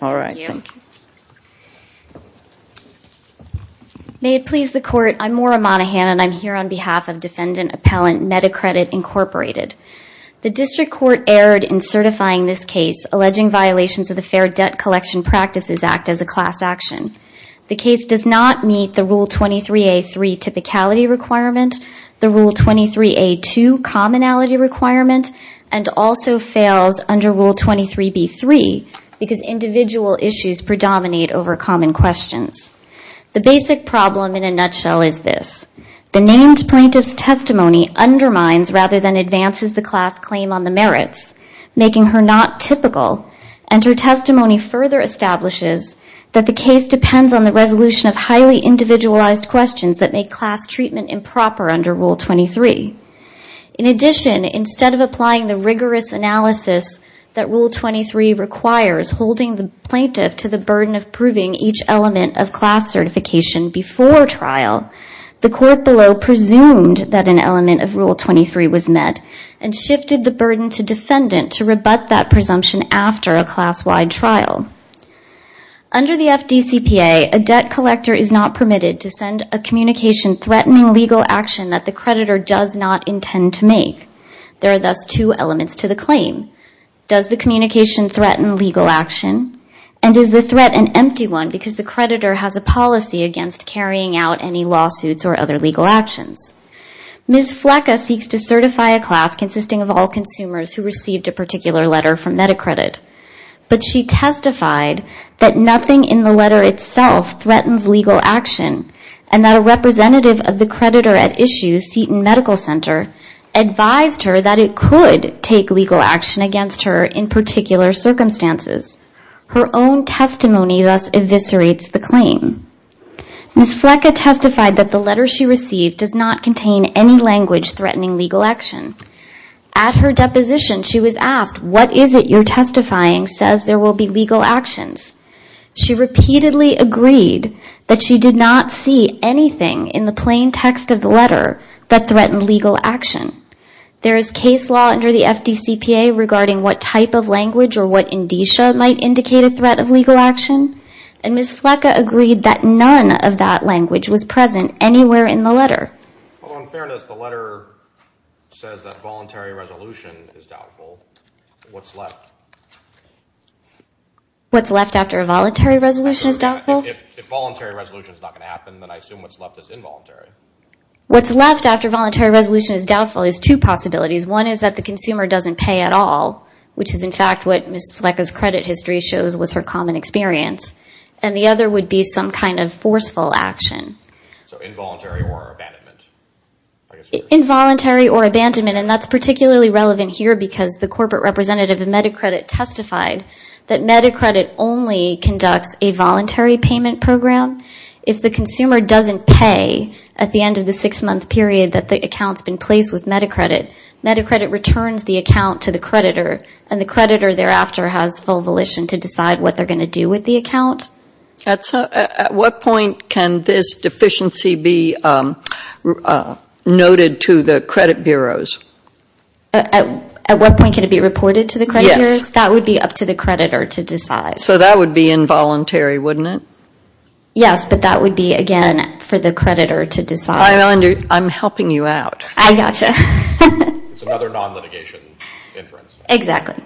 May it please the Court, I'm Maura Monaghan and I'm here on behalf of Defendant Appellant Medicredit, Incorporated. The District Court erred in certifying this case alleging violations of the Fair Debt Collection Practices Act as a class action. The case does not meet the Rule 23A3 Typicality Requirement, the Rule 23A2 Commonality Requirement, and also fails under Rule 23B3 because individual issues predominate over common questions. The basic problem in a nutshell is this. The named plaintiff's testimony undermines rather than advances the class claim on the merits, making her not typical, and her testimony further establishes that the case depends on the resolution of highly individualized questions that make class treatment improper under Rule 23. In addition, instead of applying the rigorous analysis that Rule 23 requires, holding the plaintiff to the burden of proving each element of class certification before trial, the court below presumed that an element of Rule 23 was met and shifted the burden to defendant to rebut that presumption after a class-wide trial. Under the FDCPA, a debt collector is not permitted to send a communication threatening legal action that the creditor does not intend to make. There are thus two elements to the claim. Does the communication threaten legal action? And is the threat an empty one because the creditor has a policy against carrying out any lawsuits or other legal actions? Ms. Flecka seeks to certify a class consisting of all consumers who received a particular letter from MetaCredit, but she testified that nothing in the letter itself threatens legal action and that a representative of the creditor at issue, Seton Medical Center, advised her that it could take legal action against her in particular circumstances. Her own testimony thus eviscerates the claim. Ms. Flecka testified that the letter she received does not contain any language threatening legal action. At her deposition, she was asked, what is it you're testifying says there will be legal actions? She repeatedly agreed that she did not see anything in the plain text of the letter that threatened legal action. There is case law under the FDCPA regarding what type of language or what indicia might indicate a threat of legal action, and Ms. Flecka agreed that none of that language was present anywhere in the letter. Although in fairness, the letter says that voluntary resolution is doubtful, what's left? What's left after a voluntary resolution is doubtful? If voluntary resolution is not going to happen, then I assume what's left is involuntary. What's left after voluntary resolution is doubtful is two possibilities. One is that the consumer doesn't pay at all, which is in fact what Ms. Flecka's credit history shows was her common experience, and the other would be some kind of forceful action. So involuntary or abandonment. Involuntary or abandonment, and that's particularly relevant here because the corporate representative of MediCredit testified that MediCredit only conducts a voluntary payment program. If the consumer doesn't pay at the end of the six-month period that the account's been placed with MediCredit, MediCredit returns the account to the creditor, and the creditor thereafter has full volition to decide what they're going to do with the account. At what point can this deficiency be noted to the credit bureaus? At what point can it be reported to the credit bureaus? Yes. That would be up to the creditor to decide. So that would be involuntary, wouldn't it? Yes, but that would be, again, for the creditor to decide. I'm helping you out. I got you. It's another non-litigation inference. Exactly.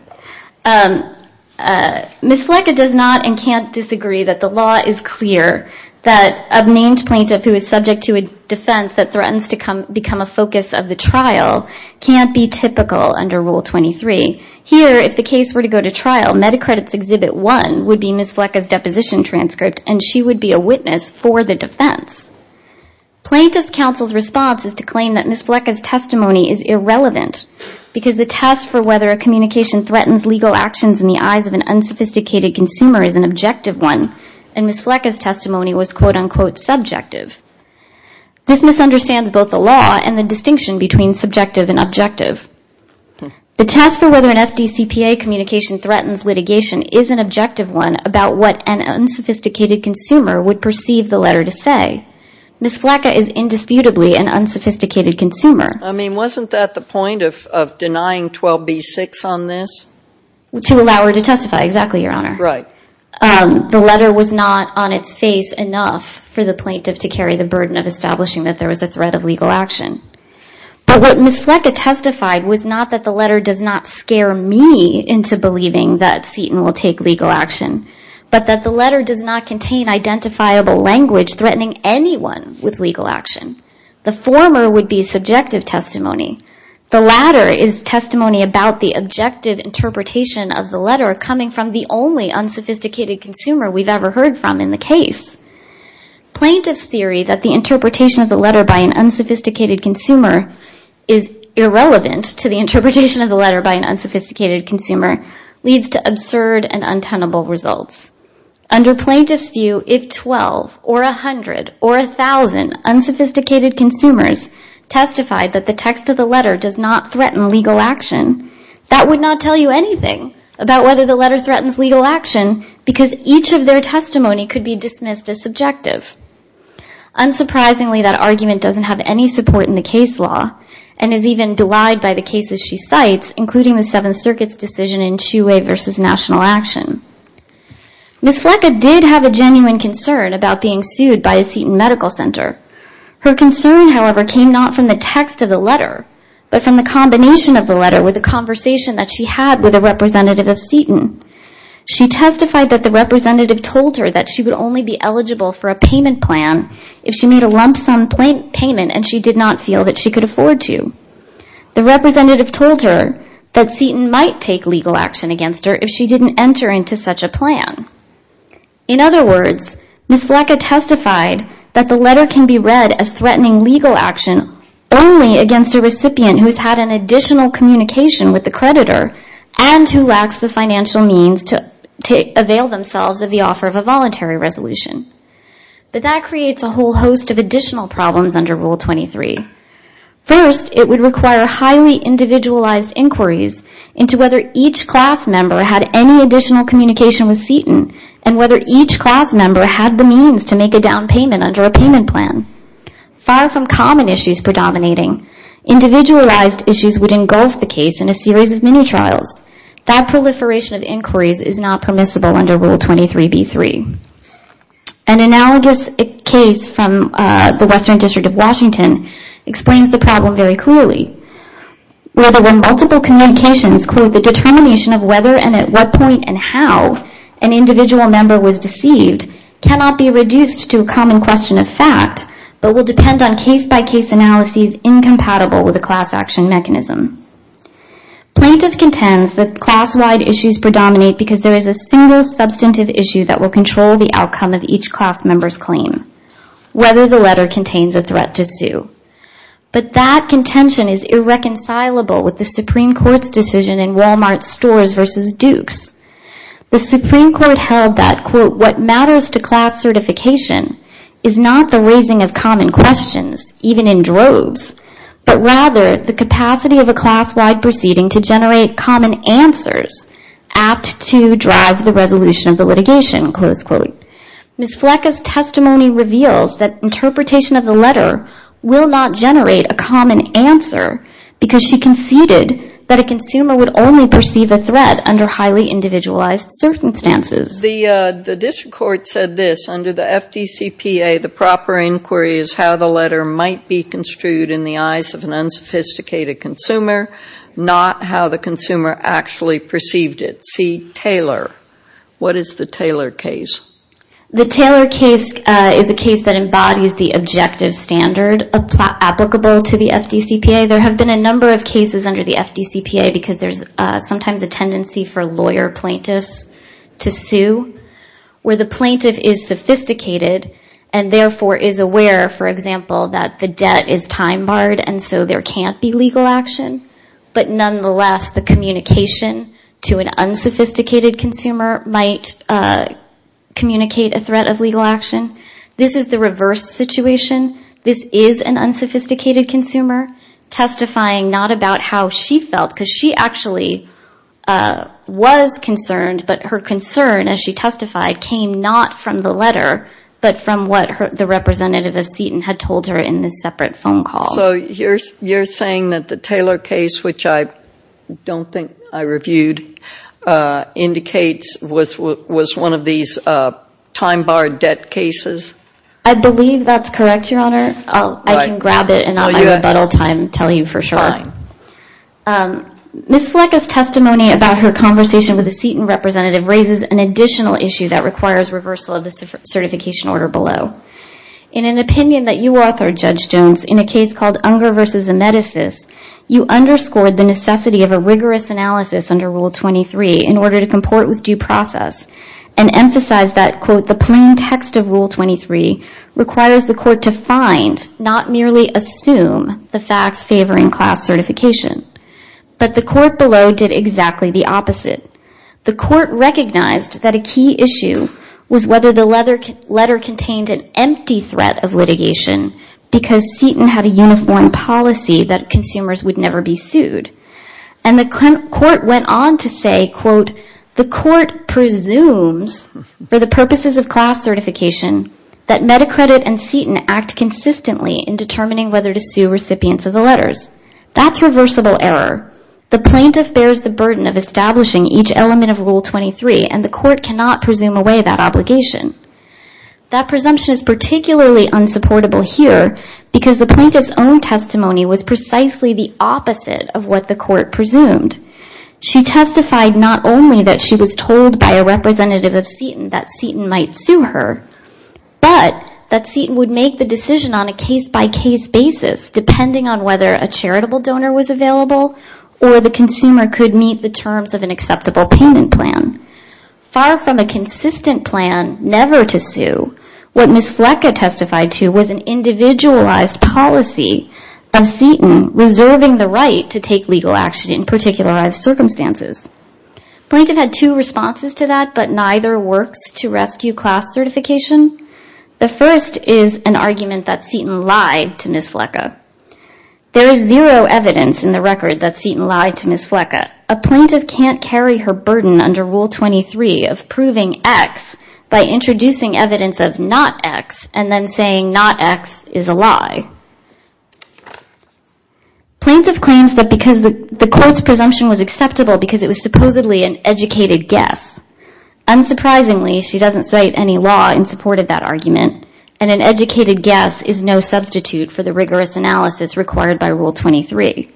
Ms. Fleca does not and can't disagree that the law is clear that a named plaintiff who is subject to a defense that threatens to become a focus of the trial can't be typical under Rule 23. Here, if the case were to go to trial, MediCredit's Exhibit 1 would be Ms. Fleca's deposition transcript, and she would be a witness for the defense. Plaintiff's counsel's response is to claim that Ms. Fleca's testimony is irrelevant because the test for whether a communication threatens legal actions in the eyes of an unsophisticated consumer is an objective one, and Ms. Fleca's testimony was quote-unquote subjective. This misunderstands both the law and the distinction between subjective and objective. The test for whether an FDCPA communication threatens litigation is an objective one about what an unsophisticated consumer would perceive the letter to say. Ms. Fleca is indisputably an unsophisticated consumer. I mean, wasn't that the point of denying 12b-6 on this? To allow her to testify, exactly, Your Honor. Right. The letter was not on its face enough for the plaintiff to carry the burden of establishing that there was a threat of legal action. But what Ms. Fleca testified was not that the letter does not scare me into believing that Seton will take legal action, but that the letter does not contain identifiable language threatening anyone with legal action. The former would be subjective testimony. The latter is testimony about the objective interpretation of the letter coming from the only unsophisticated consumer we've ever heard from in the case. Plaintiff's theory that the interpretation of the letter by an unsophisticated consumer is irrelevant to the interpretation of the letter by an unsophisticated consumer leads to absurd and untenable results. Under plaintiff's view, if 12 or 100 or 1,000 unsophisticated consumers testified that the text of the letter does not threaten legal action, that would not tell you anything about whether the letter threatens legal action because each of their testimony could be dismissed as subjective. Unsurprisingly, that argument doesn't have any support in the case law and is even denied by the cases she cites, including the Seventh Circuit's decision in Chiu Way v. National Action. Ms. Fleca did have a genuine concern about being sued by a Seton Medical Center. Her concern, however, came not from the text of the letter, but from the combination of the letter with the conversation that she had with a representative of Seton. She testified that the representative told her that she would only be eligible for a payment plan if she made a lump sum payment and she did not feel that she could afford to. The representative told her that Seton might take legal action against her if she didn't enter into such a plan. In other words, Ms. Fleca testified that the letter can be read as threatening legal action only against a recipient who has had an additional communication with the creditor and who lacks the financial means to avail themselves of the offer of a voluntary resolution. But that creates a whole host of additional problems under Rule 23. First, it would require highly individualized inquiries into whether each class member had any additional communication with Seton and whether each class member had the means to make a down payment under a payment plan. Far from common issues predominating, individualized issues would engulf the case in a series of mini-trials. That proliferation of inquiries is not permissible under Rule 23b-3. An analogous case from the Western District of Washington explains the problem very clearly. Where there were multiple communications, the determination of whether and at what point and how an individual member was deceived cannot be reduced to a common question of fact, but will depend on case-by-case analyses incompatible with a class action mechanism. Plaintiffs contend that class-wide issues predominate because there is a single substantive issue that will control the outcome of each class member's claim, whether the letter contains a threat to sue. But that contention is irreconcilable with the Supreme Court's decision in Walmart Stores v. Dukes. The Supreme Court held that, quote, what matters to class certification is not the raising of common questions, even in droves, but rather the capacity of a class-wide proceeding to generate common answers apt to drive the resolution of the litigation, close quote. Ms. Flecka's testimony reveals that interpretation of the letter will not generate a common answer because she conceded that a consumer would only perceive a threat under highly individualized circumstances. The district court said this, under the FDCPA, the proper inquiry is how the letter might be construed in the eyes of an unsophisticated consumer, not how the consumer actually perceived it. See Taylor. What is the Taylor case? The Taylor case is a case that embodies the objective standard applicable to the FDCPA. There have been a number of cases under the FDCPA because there's sometimes a tendency for lawyer plaintiffs to sue, where the plaintiff is sophisticated and therefore is aware, for example, that the debt is time barred and so there can't be legal action. But nonetheless, the communication to an unsophisticated consumer might communicate a threat of legal action. This is the reverse situation. This is an unsophisticated consumer testifying not about how she felt, because she actually was concerned, but her concern, as she testified, came not from the letter, but from what the representative of Seton had told her in this separate phone call. So you're saying that the Taylor case, which I don't think I reviewed, indicates was one of these time barred debt cases? I believe that's correct, Your Honor. I can grab it and on my rebuttal time tell you for sure. Fine. Ms. Fleca's testimony about her conversation with the Seton representative raises an additional issue that requires reversal of the certification order below. In an opinion that you authored, Judge Jones, in a case called Unger v. Amedesis, you underscored the necessity of a rigorous analysis under Rule 23 in order to comport with due process and emphasized that, quote, the plain text of Rule 23 requires the court to find, not merely assume, the facts favoring class certification. But the court below did exactly the opposite. The court recognized that a key issue was whether the letter contained an empty threat of litigation because Seton had a uniform policy that consumers would never be sued. And the court went on to say, quote, the court presumes for the purposes of class certification that Medacredit and Seton act consistently in determining whether to sue recipients of the letters. That's reversible error. The plaintiff bears the burden of establishing each element of Rule 23, and the court cannot presume away that obligation. That presumption is particularly unsupportable here because the plaintiff's own testimony was precisely the opposite of what the court presumed. She testified not only that she was told by a representative of Seton that Seton might sue her, but that Seton would make the decision on a case-by-case basis, depending on whether a charitable donor was available or the consumer could meet the terms of an acceptable payment plan. Far from a consistent plan never to sue, what Ms. Fleca testified to was an individualized policy of Seton reserving the right to take legal action in particular circumstances. The plaintiff had two responses to that, but neither works to rescue class certification. The first is an argument that Seton lied to Ms. Fleca. There is zero evidence in the record that Seton lied to Ms. Fleca. A plaintiff can't carry her burden under Rule 23 of proving X by introducing evidence of not X and then saying not X is a lie. Plaintiff claims that because the court's presumption was acceptable because it was supposedly an educated guess. Unsurprisingly, she doesn't cite any law in support of that argument, and an educated guess is no substitute for the rigorous analysis required by Rule 23.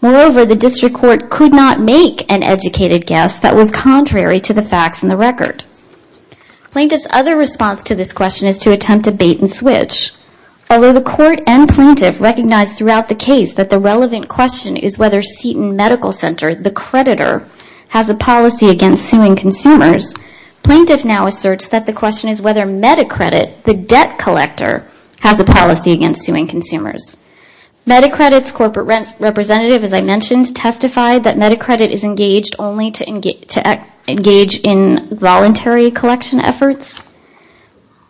Moreover, the district court could not make an educated guess that was contrary to the facts in the record. Plaintiff's other response to this question is to attempt a bait-and-switch. Although the court and plaintiff recognize throughout the case that the relevant question is whether Seton Medical Center, the creditor, has a policy against suing consumers, plaintiff now asserts that the question is whether MediCredit, the debt collector, has a policy against suing consumers. MediCredit's corporate representative, as I mentioned, testified that MediCredit is engaged only to engage in voluntary collection efforts.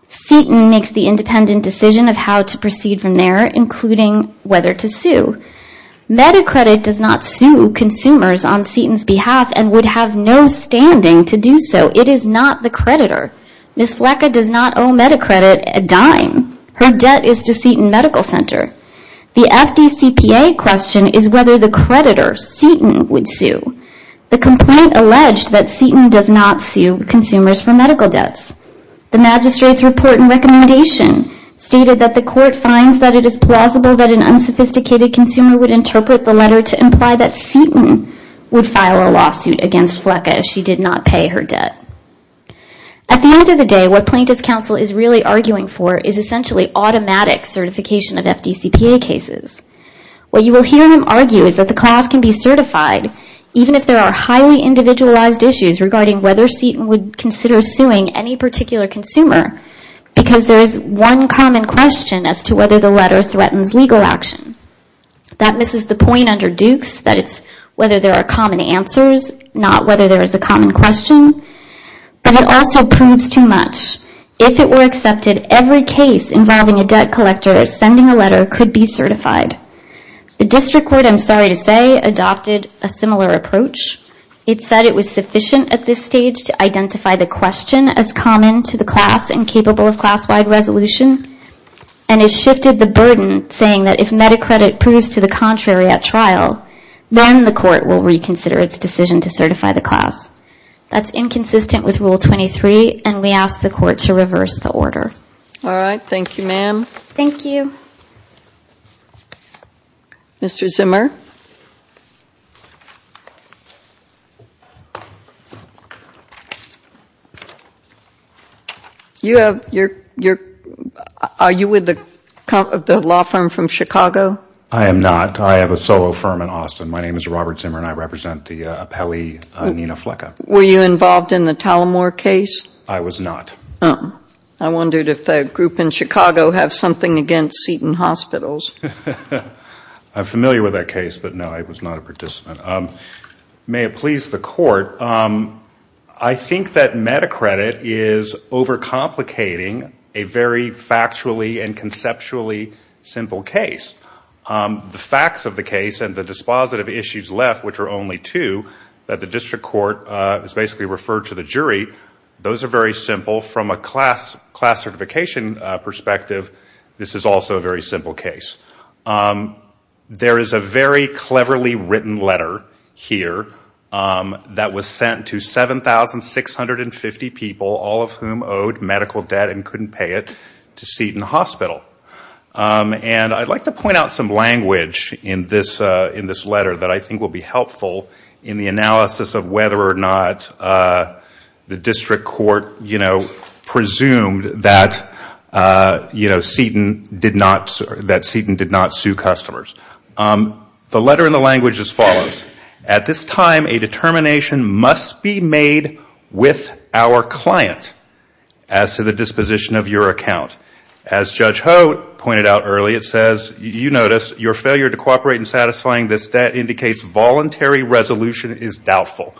Seton makes the independent decision of how to proceed from there, including whether to sue. MediCredit does not sue consumers on Seton's behalf and would have no standing to do so. It is not the creditor. Ms. Fleca does not owe MediCredit a dime. Her debt is to Seton Medical Center. The FDCPA question is whether the creditor, Seton, would sue. The complaint alleged that Seton does not sue consumers for medical debts. The magistrate's report and recommendation stated that the court finds that it is plausible that an unsophisticated consumer would interpret the letter to imply that Seton would file a lawsuit against Fleca if she did not pay her debt. At the end of the day, what Plaintiff's Counsel is really arguing for is essentially automatic certification of FDCPA cases. What you will hear him argue is that the class can be certified even if there are highly individualized issues regarding whether Seton would consider suing any particular consumer because there is one common question as to whether the letter threatens legal action. That misses the point under Dukes that it's whether there are common answers, not whether there is a common question. But it also proves too much. If it were accepted, every case involving a debt collector sending a letter could be certified. The district court, I'm sorry to say, adopted a similar approach. It said it was sufficient at this stage to identify the question as common to the class and capable of class-wide resolution. And it shifted the burden, saying that if MediCredit proves to the contrary at trial, then the court will reconsider its decision to certify the class. That's inconsistent with Rule 23, and we ask the court to reverse the order. All right. Thank you, ma'am. Thank you. Mr. Zimmer? Are you with the law firm from Chicago? I am not. I have a solo firm in Austin. My name is Robert Zimmer, and I represent the appellee Nina Fleca. Were you involved in the Talamore case? I was not. I wondered if the group in Chicago have something against Seton Hospitals. I'm familiar with that case, but, no, I was not a participant. May it please the court, I think that MediCredit is overcomplicating a very factually and conceptually simple case. The facts of the case and the dispositive issues left, which are only two, that the district court has basically referred to the jury, those are very simple. From a class certification perspective, this is also a very simple case. There is a very cleverly written letter here that was sent to 7,650 people, all of whom owed medical debt and couldn't pay it, to Seton Hospital. And I'd like to point out some language in this letter that I think will be helpful in the analysis of whether or not the district court, you know, did not sue customers. The letter in the language is as follows. At this time, a determination must be made with our client as to the disposition of your account. As Judge Ho pointed out earlier, it says, you notice, your failure to cooperate in satisfying this debt indicates voluntary resolution is doubtful.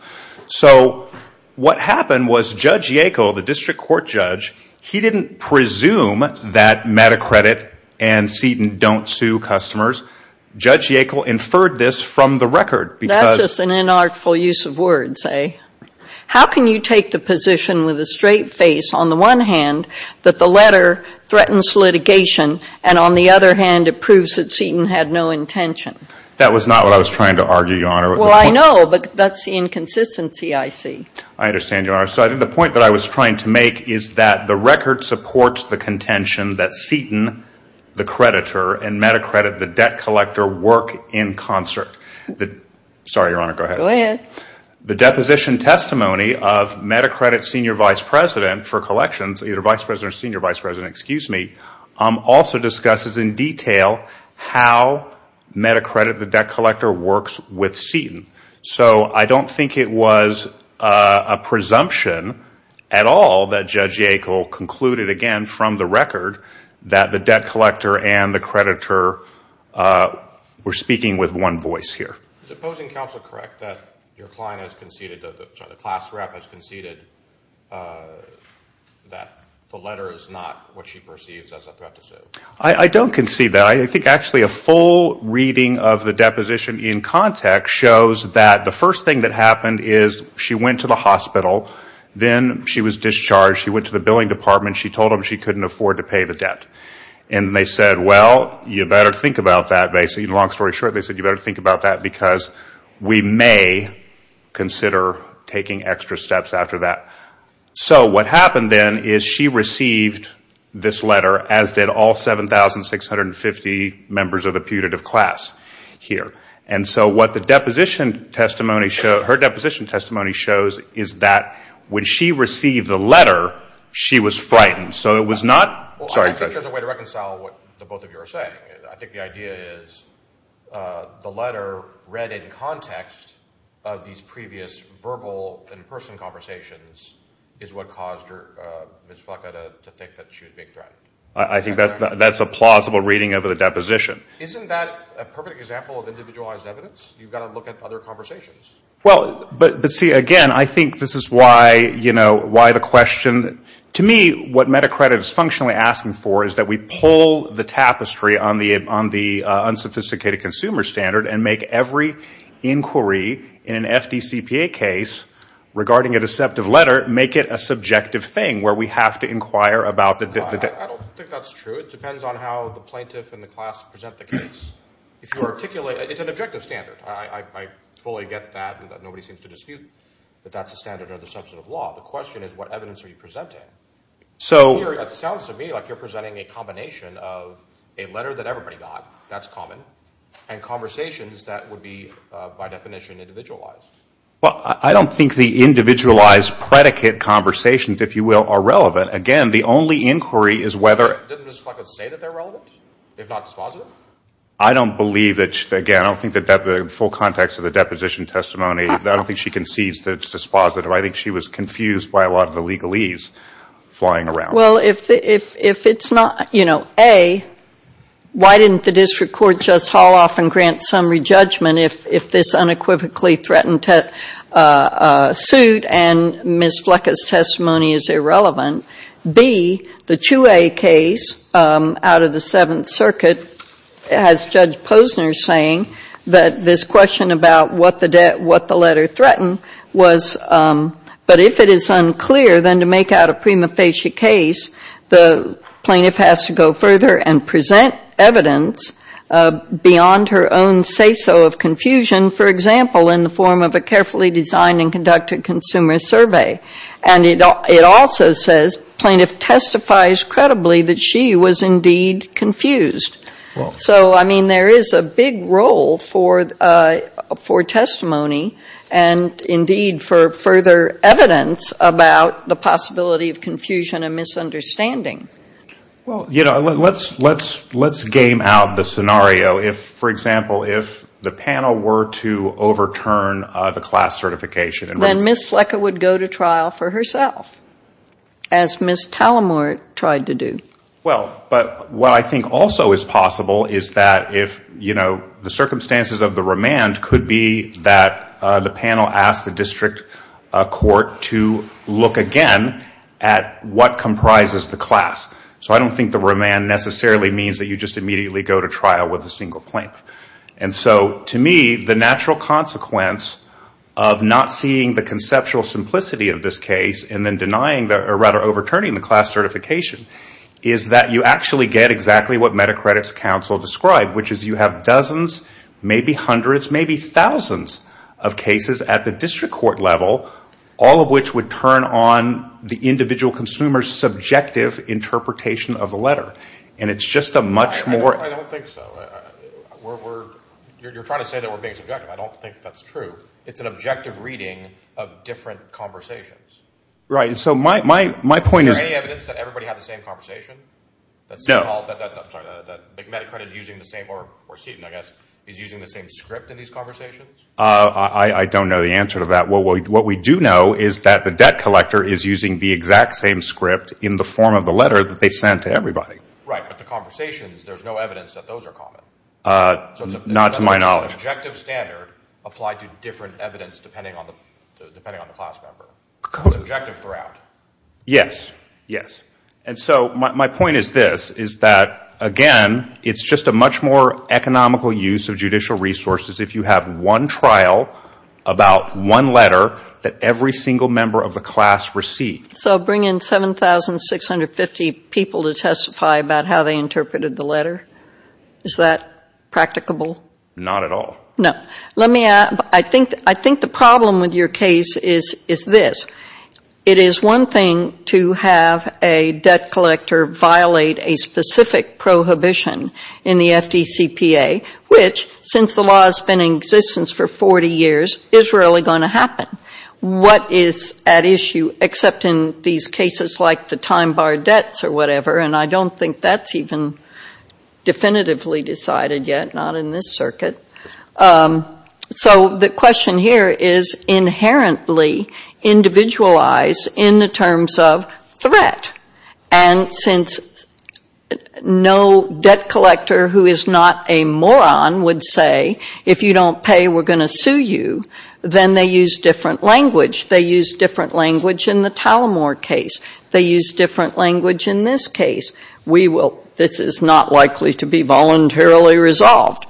So what happened was Judge Yackel, the district court judge, he didn't presume that MediCredit and Seton don't sue customers. Judge Yackel inferred this from the record. That's just an inartful use of words, eh? How can you take the position with a straight face, on the one hand, that the letter threatens litigation, and on the other hand, it proves that Seton had no intention? That was not what I was trying to argue, Your Honor. Well, I know, but that's the inconsistency I see. I understand, Your Honor. So I think the point that I was trying to make is that the record supports the contention that Seton, the creditor, and MediCredit, the debt collector, work in concert. Sorry, Your Honor, go ahead. Go ahead. The deposition testimony of MediCredit's senior vice president for collections, either vice president or senior vice president, excuse me, also discusses in detail how MediCredit, the debt collector, works with Seton. So I don't think it was a presumption at all that Judge Yakel concluded, again, from the record, that the debt collector and the creditor were speaking with one voice here. Is opposing counsel correct that your client has conceded, that the class rep has conceded that the letter is not what she perceives as a threat to Sue? I don't concede that. I think actually a full reading of the deposition in context shows that the first thing that happened is she went to the hospital. Then she was discharged. She went to the billing department. She told them she couldn't afford to pay the debt. And they said, well, you better think about that, basically. Long story short, they said you better think about that because we may consider taking extra steps after that. So what happened then is she received this letter, as did all 7,650 members of the putative class here. And so what the deposition testimony shows, her deposition testimony shows is that when she received the letter, she was frightened. So it was not sorry, Judge. Well, I don't think there's a way to reconcile what the both of you are saying. I think the idea is the letter read in context of these previous verbal and person conversations is what caused Ms. Flaca to think that she was being threatened. I think that's a plausible reading of the deposition. Isn't that a perfect example of individualized evidence? You've got to look at other conversations. Well, but see, again, I think this is why the question to me, what MetaCredit is functionally asking for is that we pull the tapestry on the regarding a deceptive letter, make it a subjective thing where we have to inquire about the debt. I don't think that's true. It depends on how the plaintiff and the class present the case. It's an objective standard. I fully get that. Nobody seems to dispute that that's a standard or the substance of law. The question is what evidence are you presenting? It sounds to me like you're presenting a combination of a letter that everybody got, that's common, and conversations that would be, by definition, individualized. Well, I don't think the individualized predicate conversations, if you will, are relevant. Again, the only inquiry is whether — Didn't Ms. Flaca say that they're relevant, if not dispositive? I don't believe that, again, I don't think the full context of the deposition testimony, I don't think she concedes that it's dispositive. I think she was confused by a lot of the legalese flying around. Well, if it's not, you know, A, why didn't the district court just haul off and grant summary judgment if this unequivocally threatened suit and Ms. Flaca's testimony is irrelevant? B, the Chiu A case out of the Seventh Circuit has Judge Posner saying that this question about what the letter threatened was — but if it is unclear, then to make out a prima facie case, the plaintiff has to go further and present evidence beyond her own say-so of confusion, for example, in the form of a carefully designed and conducted consumer survey. And it also says plaintiff testifies credibly that she was indeed confused. So, I mean, there is a big role for testimony, and indeed for further evidence about the possibility of confusion and misunderstanding. Well, you know, let's game out the scenario. If, for example, if the panel were to overturn the class certification — Then Ms. Flaca would go to trial for herself, as Ms. Tallamore tried to do. Well, but what I think also is possible is that if, you know, the circumstances of the remand could be that the panel asked the district court to look again at what comprises the class. So I don't think the remand necessarily means that you just immediately go to trial with a single plaintiff. And so, to me, the natural consequence of not seeing the conceptual simplicity of this case and then denying, or rather overturning the class certification, is that you actually get exactly what Metacredit's counsel described, which is you have dozens, maybe hundreds, maybe thousands of cases at the district court level, all of which would turn on the individual consumer's subjective interpretation of the letter. And it's just a much more — Right, so my point is — No. I don't know the answer to that. What we do know is that the debt collector is using the exact same script in the form of the letter that they sent to everybody. Not to my knowledge. Yes. Yes. And so my point is this, is that, again, it's just a much more economical use of judicial resources if you have one trial about one letter that every single member of the class received. So bring in 7,650 people to testify about how they interpreted the letter. Is that practicable? Not at all. No. Let me add, I think the problem with your case is this. It is one thing to have a debt collector violate a specific prohibition in the FDCPA, which, since the law has been in existence for 40 years, is rarely going to happen. What is at issue, except in these cases like the time-barred debts or whatever, and I don't think that's even definitively decided yet, not in this circuit. So the question here is inherently individualized in the terms of threat. And since no debt collector who is not a moron would say, if you don't pay, we're going to sue you, then they use different language. They use different language in the Talamore case. They use different language in this case. This is not likely to be voluntarily resolved.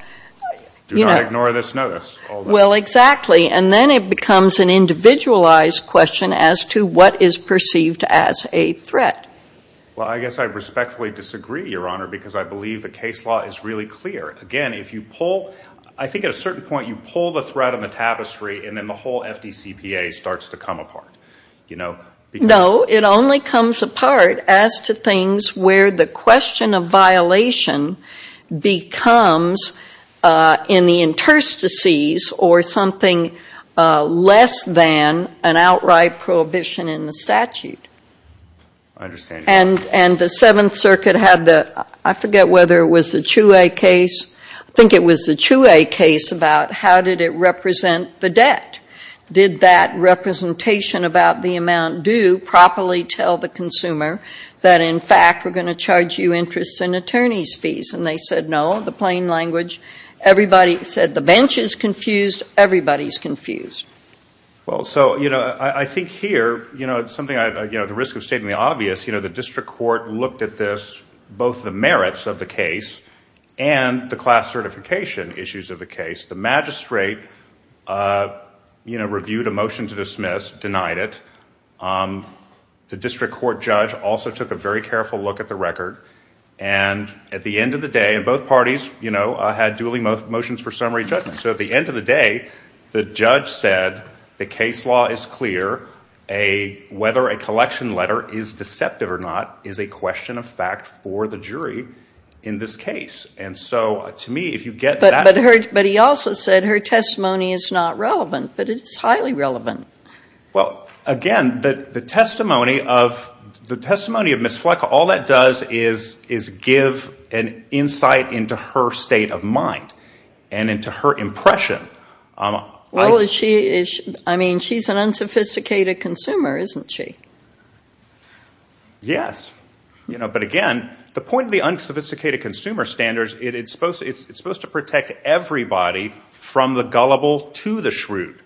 Do not ignore this notice. Well, exactly. And then it becomes an individualized question as to what is perceived as a threat. Well, I guess I respectfully disagree, Your Honor, because I believe the case law is really clear. Again, if you pull, I think at a certain point you pull the threat on the tapestry and then the whole FDCPA starts to come apart. No, it only comes apart as to things where the question of violation becomes in the interstices or something less than an outright prohibition in the statute. And the Seventh Circuit had the, I forget whether it was the Chueh case. I think it was the Chueh case about how did it represent the debt. Did that representation about the amount due properly tell the consumer that, in fact, we're going to charge you interest and attorney's fees? And they said no, the plain language. Everybody said the bench is confused. Everybody's confused. Well, so I think here, the risk of stating the obvious, the district court looked at this, both the merits of the case and the class certification issues of the case. The magistrate reviewed a motion to dismiss, denied it. The district court judge also took a very careful look at the record. And at the end of the day, both parties had duly motions for summary judgment. So at the end of the day, the judge said the case law is clear. Whether a collection letter is deceptive or not is a question of fact for the jury in this case. And so to me, if you get that. But he also said her testimony is not relevant, but it is highly relevant. Well, again, the testimony of Ms. Fleckall, all that does is give an insight into her state of mind and into her impression. I mean, she's an unsophisticated consumer, isn't she? Yes, but again, the point of the unsophisticated consumer standards, it's supposed to protect everybody from the gullible to the shrewd.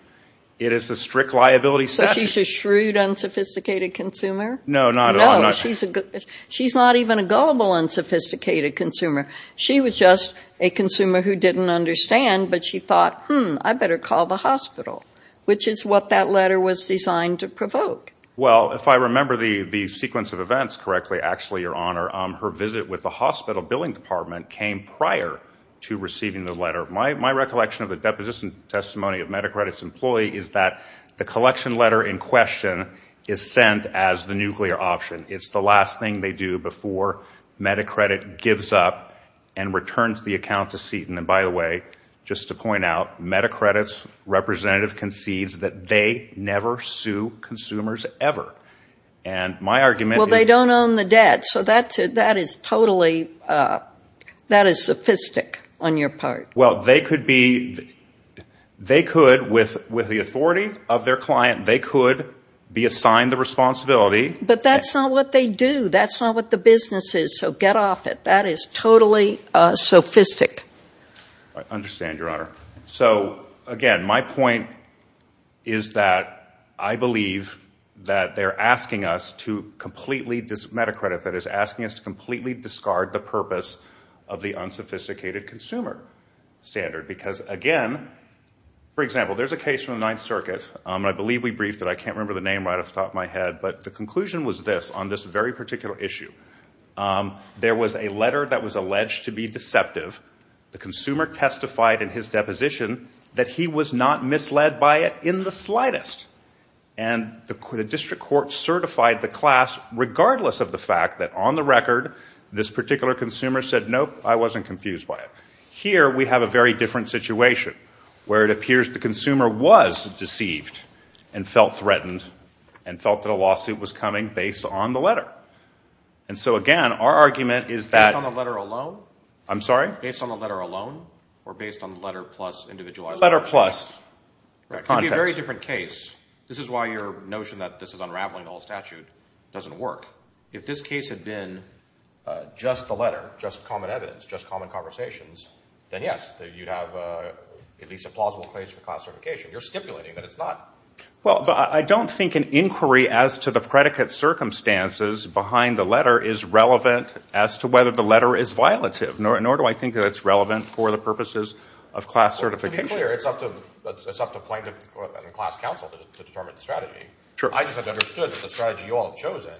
It is a strict liability statute. So she's a shrewd, unsophisticated consumer? No, not at all. No, she's not even a gullible, unsophisticated consumer. She was just a consumer who didn't understand, but she thought, hmm, I better call the hospital. Which is what that letter was designed to provoke. Well, if I remember the sequence of events correctly, actually, Your Honor, her visit with the hospital billing department came prior to receiving the letter. My recollection of the deposition testimony of Medacredit's employee is that the collection letter in question is sent as the nuclear option. It's the last thing they do before Medacredit gives up and returns the account to Seton. And by the way, just to point out, Medacredit's representative concedes that they never sue consumers ever. Well, they don't own the debt, so that is totally, that is sophistic on your part. Well, they could be, they could, with the authority of their client, they could be assigned the responsibility. But that's not what they do. That's not what the business is. So get off it. That is totally sophistic. I understand, Your Honor. So, again, my point is that I believe that they're asking us to completely, Medacredit, that is asking us to completely discard the purpose of the unsophisticated consumer. Because, again, for example, there's a case from the Ninth Circuit, and I believe we briefed it. I can't remember the name right off the top of my head, but the conclusion was this on this very particular issue. There was a letter that was alleged to be deceptive. The consumer testified in his deposition that he was not misled by it in the slightest. And the district court certified the class regardless of the fact that, on the record, this particular consumer said, nope, I wasn't confused by it. Now we're in a very different situation where it appears the consumer was deceived and felt threatened and felt that a lawsuit was coming based on the letter. And so, again, our argument is that... Based on the letter alone? I'm sorry? Based on the letter alone or based on the letter plus individualized... You're stipulating that it's not. Well, but I don't think an inquiry as to the predicate circumstances behind the letter is relevant as to whether the letter is violative, nor do I think that it's relevant for the purposes of class certification. To be clear, it's up to plaintiff and class counsel to determine the strategy. I just have understood that the strategy you all have chosen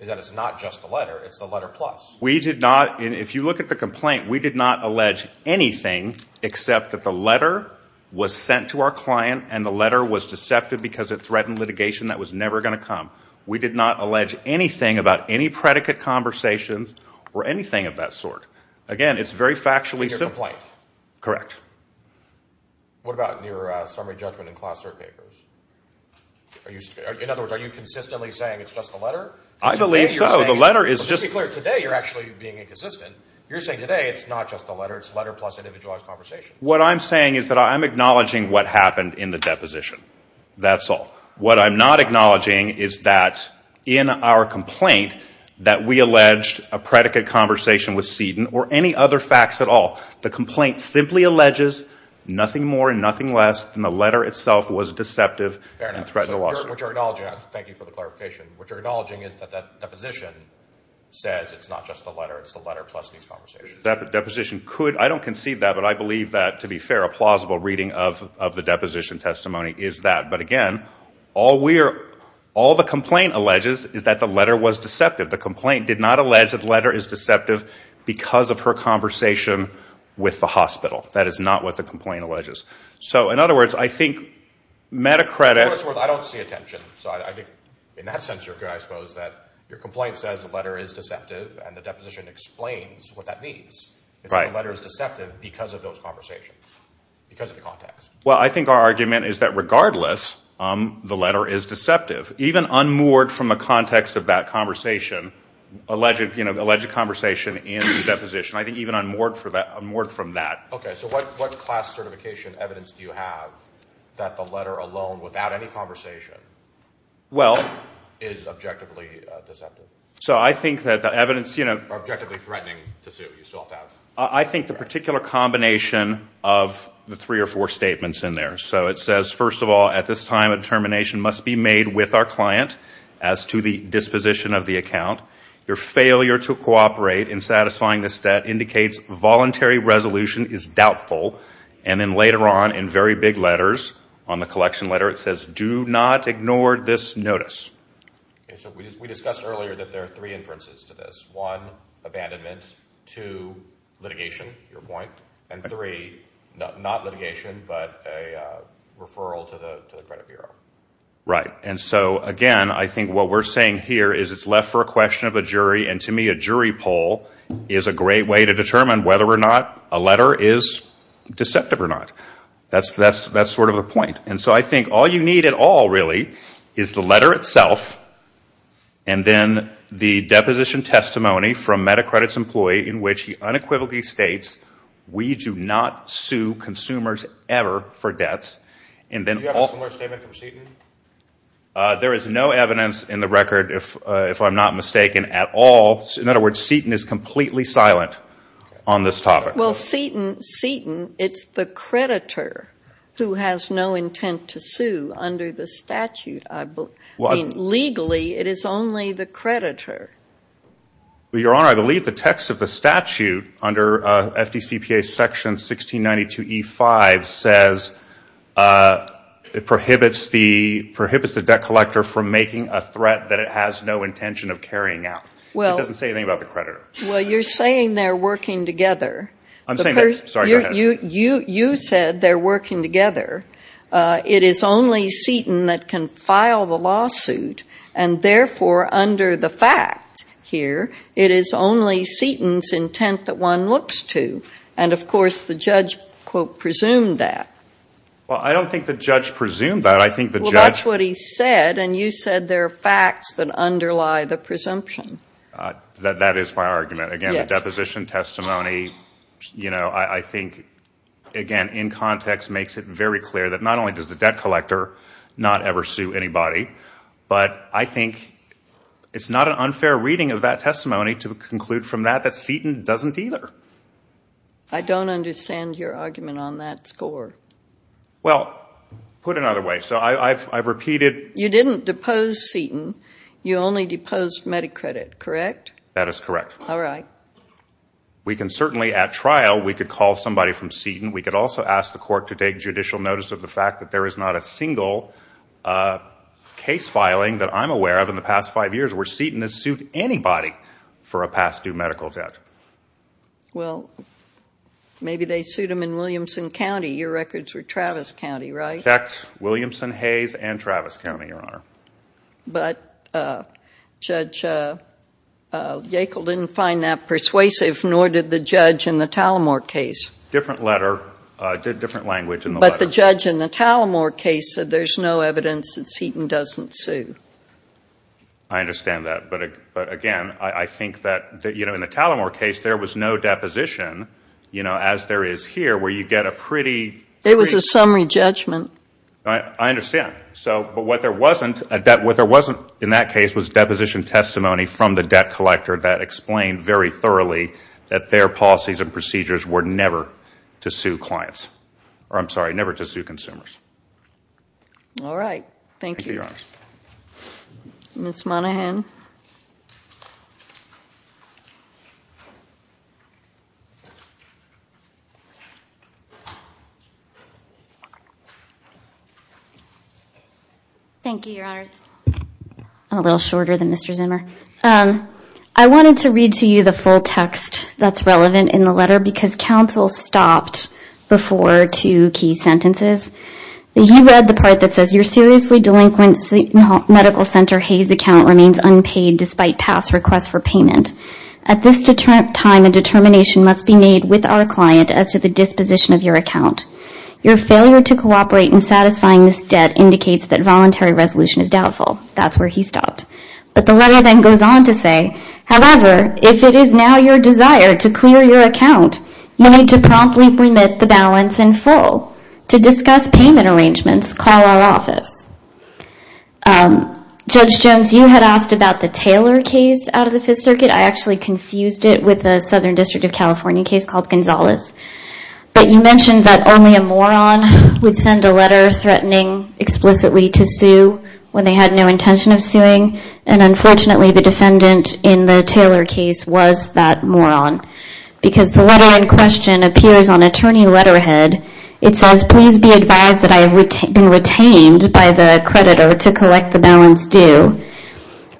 is that it's not just the letter, it's the letter plus. We did not, if you look at the complaint, we did not allege anything except that the letter was sent to our client and the letter was deceptive because it threatened litigation that was never going to come. We did not allege anything about any predicate conversations or anything of that sort. Again, it's very factually simple. What about your summary judgment in class cert papers? In other words, are you consistently saying it's just the letter? I believe so. Just to be clear, today you're actually being inconsistent. You're saying today it's not just the letter, it's the letter plus individualized conversations. What I'm saying is that I'm acknowledging what happened in the deposition. That's all. What I'm not acknowledging is that in our complaint, that we alleged a predicate conversation with Seaton or any other facts at all. The complaint simply alleges nothing more and nothing less than the letter itself was deceptive and threatened the lawsuit. Thank you for the clarification. What you're acknowledging is that the deposition says it's not just the letter, it's the letter plus these conversations. I don't concede that, but I believe that, to be fair, a plausible reading of the deposition testimony is that. Again, all the complaint alleges is that the letter was deceptive. The complaint did not allege that the letter is deceptive because of her conversation with the hospital. That is not what the complaint alleges. I don't see attention. In that sense, I suppose, your complaint says the letter is deceptive and the deposition explains what that means. It's that the letter is deceptive because of those conversations, because of the context. I think our argument is that regardless, the letter is deceptive, even unmoored from a context of that conversation, alleged conversation in the deposition. I think even unmoored from that. What class certification evidence do you have that the letter alone, without any conversation, is objectively deceptive? Objectively threatening to sue. I think the particular combination of the three or four statements in there. It says, first of all, at this time, a determination must be made with our client as to the disposition of the account. Your failure to cooperate in satisfying this debt indicates voluntary resolution is doubtful. And then later on, in very big letters, on the collection letter, it says, do not ignore this notice. We discussed earlier that there are three inferences to this. One, abandonment. Two, litigation, your point. And three, not litigation, but a referral to the credit bureau. And so again, I think what we're saying here is it's left for a question of a jury. And to me, a jury poll is a great way to determine whether or not a letter is deceptive or not. That's sort of the point. And so I think all you need at all, really, is the letter itself, and then the deposition testimony from MediCredit's employee, in which he unequivocally states, we do not sue consumers ever for debts. Do you have a similar statement from Seton? There is no evidence in the record, if I'm not mistaken, at all. In other words, Seton is completely silent on this topic. Well, Seton, it's the creditor who has no intent to sue under the statute. I mean, legally, it is only the creditor. Well, Your Honor, I believe the text of the statute under FDCPA section 1692E5 says it prohibits the debt collector from making a threat that it has no intention of carrying out. It doesn't say anything about the creditor. Well, you're saying they're working together. You said they're working together. It is only Seton that can file the lawsuit. And therefore, under the fact here, it is only Seton's intent that one looks to. And, of course, the judge, quote, presumed that. Well, I don't think the judge presumed that. Well, that's what he said, and you said there are facts that underlie the presumption. That is my argument. Again, the deposition testimony, I think, again, in context makes it very clear that not only does the debt collector not ever sue anybody, but I think it's not an unfair reading of that testimony to conclude from that that Seton doesn't either. I don't understand your argument on that score. Well, put another way. So I've repeated. You didn't depose Seton. You only deposed MediCredit, correct? That is correct. We can certainly, at trial, we could call somebody from Seton. We could also ask the court to take judicial notice of the fact that there is not a single case filing that I'm aware of in the past five years where Seton has sued anybody for a past due medical debt. Well, maybe they sued him in Williamson County. Your records were Travis County, right? I checked Williamson, Hayes, and Travis County, Your Honor. But Judge Yackel didn't find that persuasive, nor did the judge in the Talamore case. Different letter, different language in the letter. But the judge in the Talamore case said there's no evidence that Seton doesn't sue. I understand that. But again, I think that in the Talamore case, there was no deposition, as there is here, where you get a pretty It was a summary judgment. I understand. But what there wasn't in that case was deposition testimony from the debt collector that explained very thoroughly that their policies and procedures were never to sue consumers. All right. Thank you, Your Honors. I'm a little shorter than Mr. Zimmer. I wanted to read to you the full text that's relevant in the letter, because counsel stopped before two key sentences. He read the part that says, At this time, a determination must be made with our client as to the disposition of your account. Your failure to cooperate in satisfying this debt indicates that voluntary resolution is doubtful. That's where he stopped. But the letter then goes on to say, Judge Jones, you had asked about the Taylor case out of the Fifth Circuit. I actually confused it with a Southern District of California case called Gonzalez. But you mentioned that only a moron would send a letter threatening explicitly to sue when they had no intention of suing. And unfortunately, the defendant in the Taylor case was that moron. Because the letter in question appears on attorney letterhead. It says,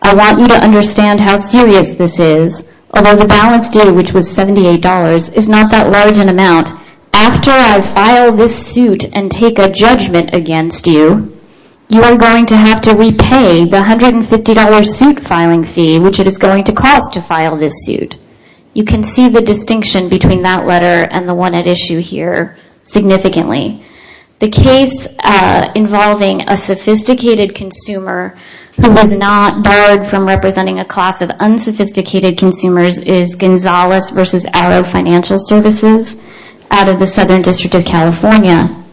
I want you to understand how serious this is. Although the balance due, which was $78, is not that large an amount. After I file this suit and take a judgment against you, you are going to have to repay the $150 suit filing fee, which it is going to cost to file this suit. You can see the distinction between that letter and the one at issue here significantly. The case involving a sophisticated consumer who was not barred from representing a class of unsophisticated consumers is Gonzalez v. Arrow Financial Services out of the Southern District of California.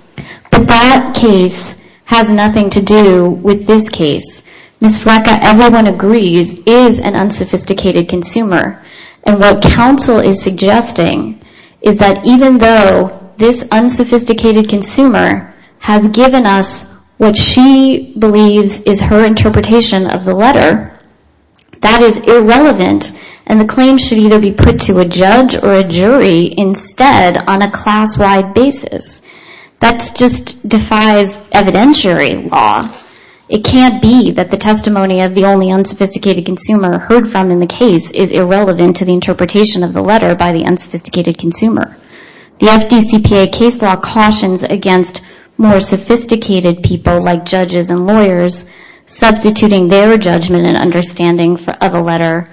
But that case has nothing to do with this case. Ms. Frecka, everyone agrees, is an unsophisticated consumer. And what counsel is suggesting is that even though this unsophisticated consumer has given us what she believes is her interpretation of the letter, that is irrelevant. And the claim should either be put to a judge or a jury instead on a class-wide basis. That just defies evidentiary law. It can't be that the testimony of the only unsophisticated consumer heard from in the case is irrelevant to the interpretation of the letter by the unsophisticated consumer. The FDCPA case law cautions against more sophisticated people like judges and lawyers, substituting their judgment and understanding of a letter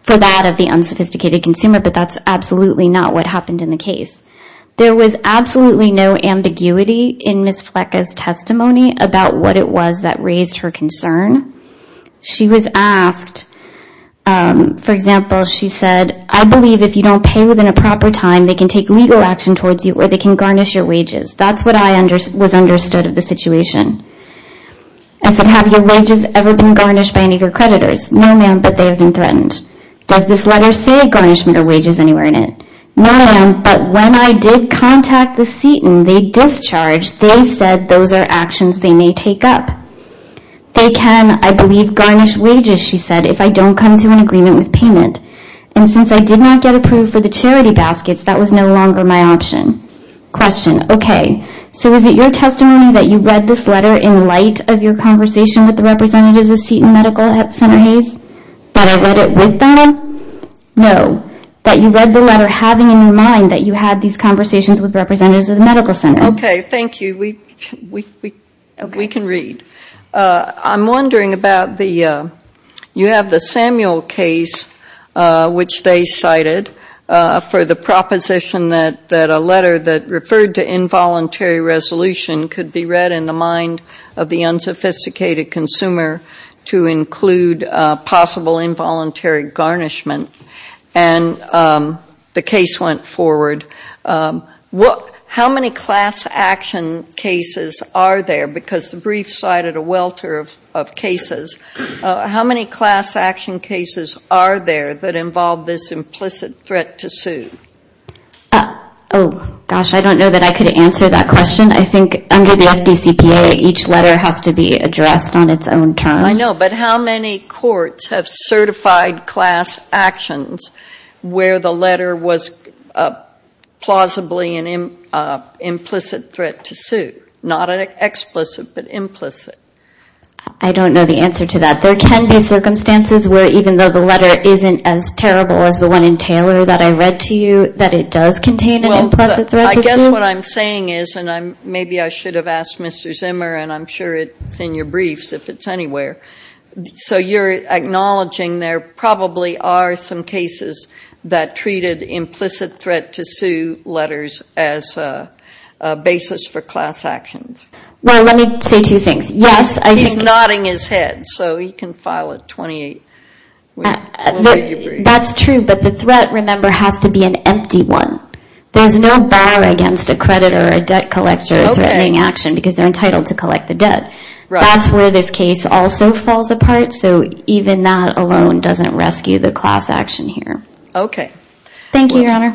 for that of the unsophisticated consumer. But that's absolutely not what happened in the case. There was absolutely no ambiguity in Ms. Frecka's testimony about what it was that raised her concern. She was asked, for example, she said, I believe if you don't pay within a proper time, they can take legal action towards you or they can garnish your wages. That's what I was understood of the situation. I said, have your wages ever been garnished by any of your creditors? No, ma'am, but they have been threatened. Does this letter say garnishment or wages anywhere in it? No, ma'am, but when I did contact the seat and they discharged, they said those are actions they may take up. They can, I believe, garnish wages, she said, if I don't come to an agreement with payment. And since I did not get approved for the charity baskets, that was no longer my option. Question, okay, so is it your testimony that you read this letter in light of your conversation with the representatives of seat and medical center Hays? That I read it with them? No, that you read the letter having in mind that you had these conversations with representatives of the medical center. Okay, thank you. We can read. I'm wondering about the, you have the Samuel case which they cited for the proposition that a letter that referred to involuntary resolution could be read in the mind of the unsophisticated consumer to include possible involuntary garnishment. And the case went forward. How many class action cases are there, because the brief cited a welter of cases, how many class action cases are there that involve this implicit threat to sue? Oh, gosh, I don't know that I could answer that question. I think under the FDCPA, each letter has to be addressed on its own terms. I know, but how many courts have certified class actions where the letter was plausibly an implicit threat to sue? Not an explicit, but implicit. I don't know the answer to that. There can be circumstances where even though the letter isn't as terrible as the one in Taylor that I read to you, that it does contain an implicit threat to sue. I guess what I'm saying is, and maybe I should have asked Mr. Zimmer, and I'm sure it's in your briefs, if it's anywhere. So you're acknowledging there probably are some cases that treated implicit threat to sue letters as a basis for class actions. Well, let me say two things. He's nodding his head, so he can file a 28. That's true, but the threat, remember, has to be an empty one. There's no bar against a creditor or a debt collector threatening action because they're entitled to collect the debt. That's where this case also falls apart, so even that alone doesn't rescue the class action here. Thank you, Your Honor.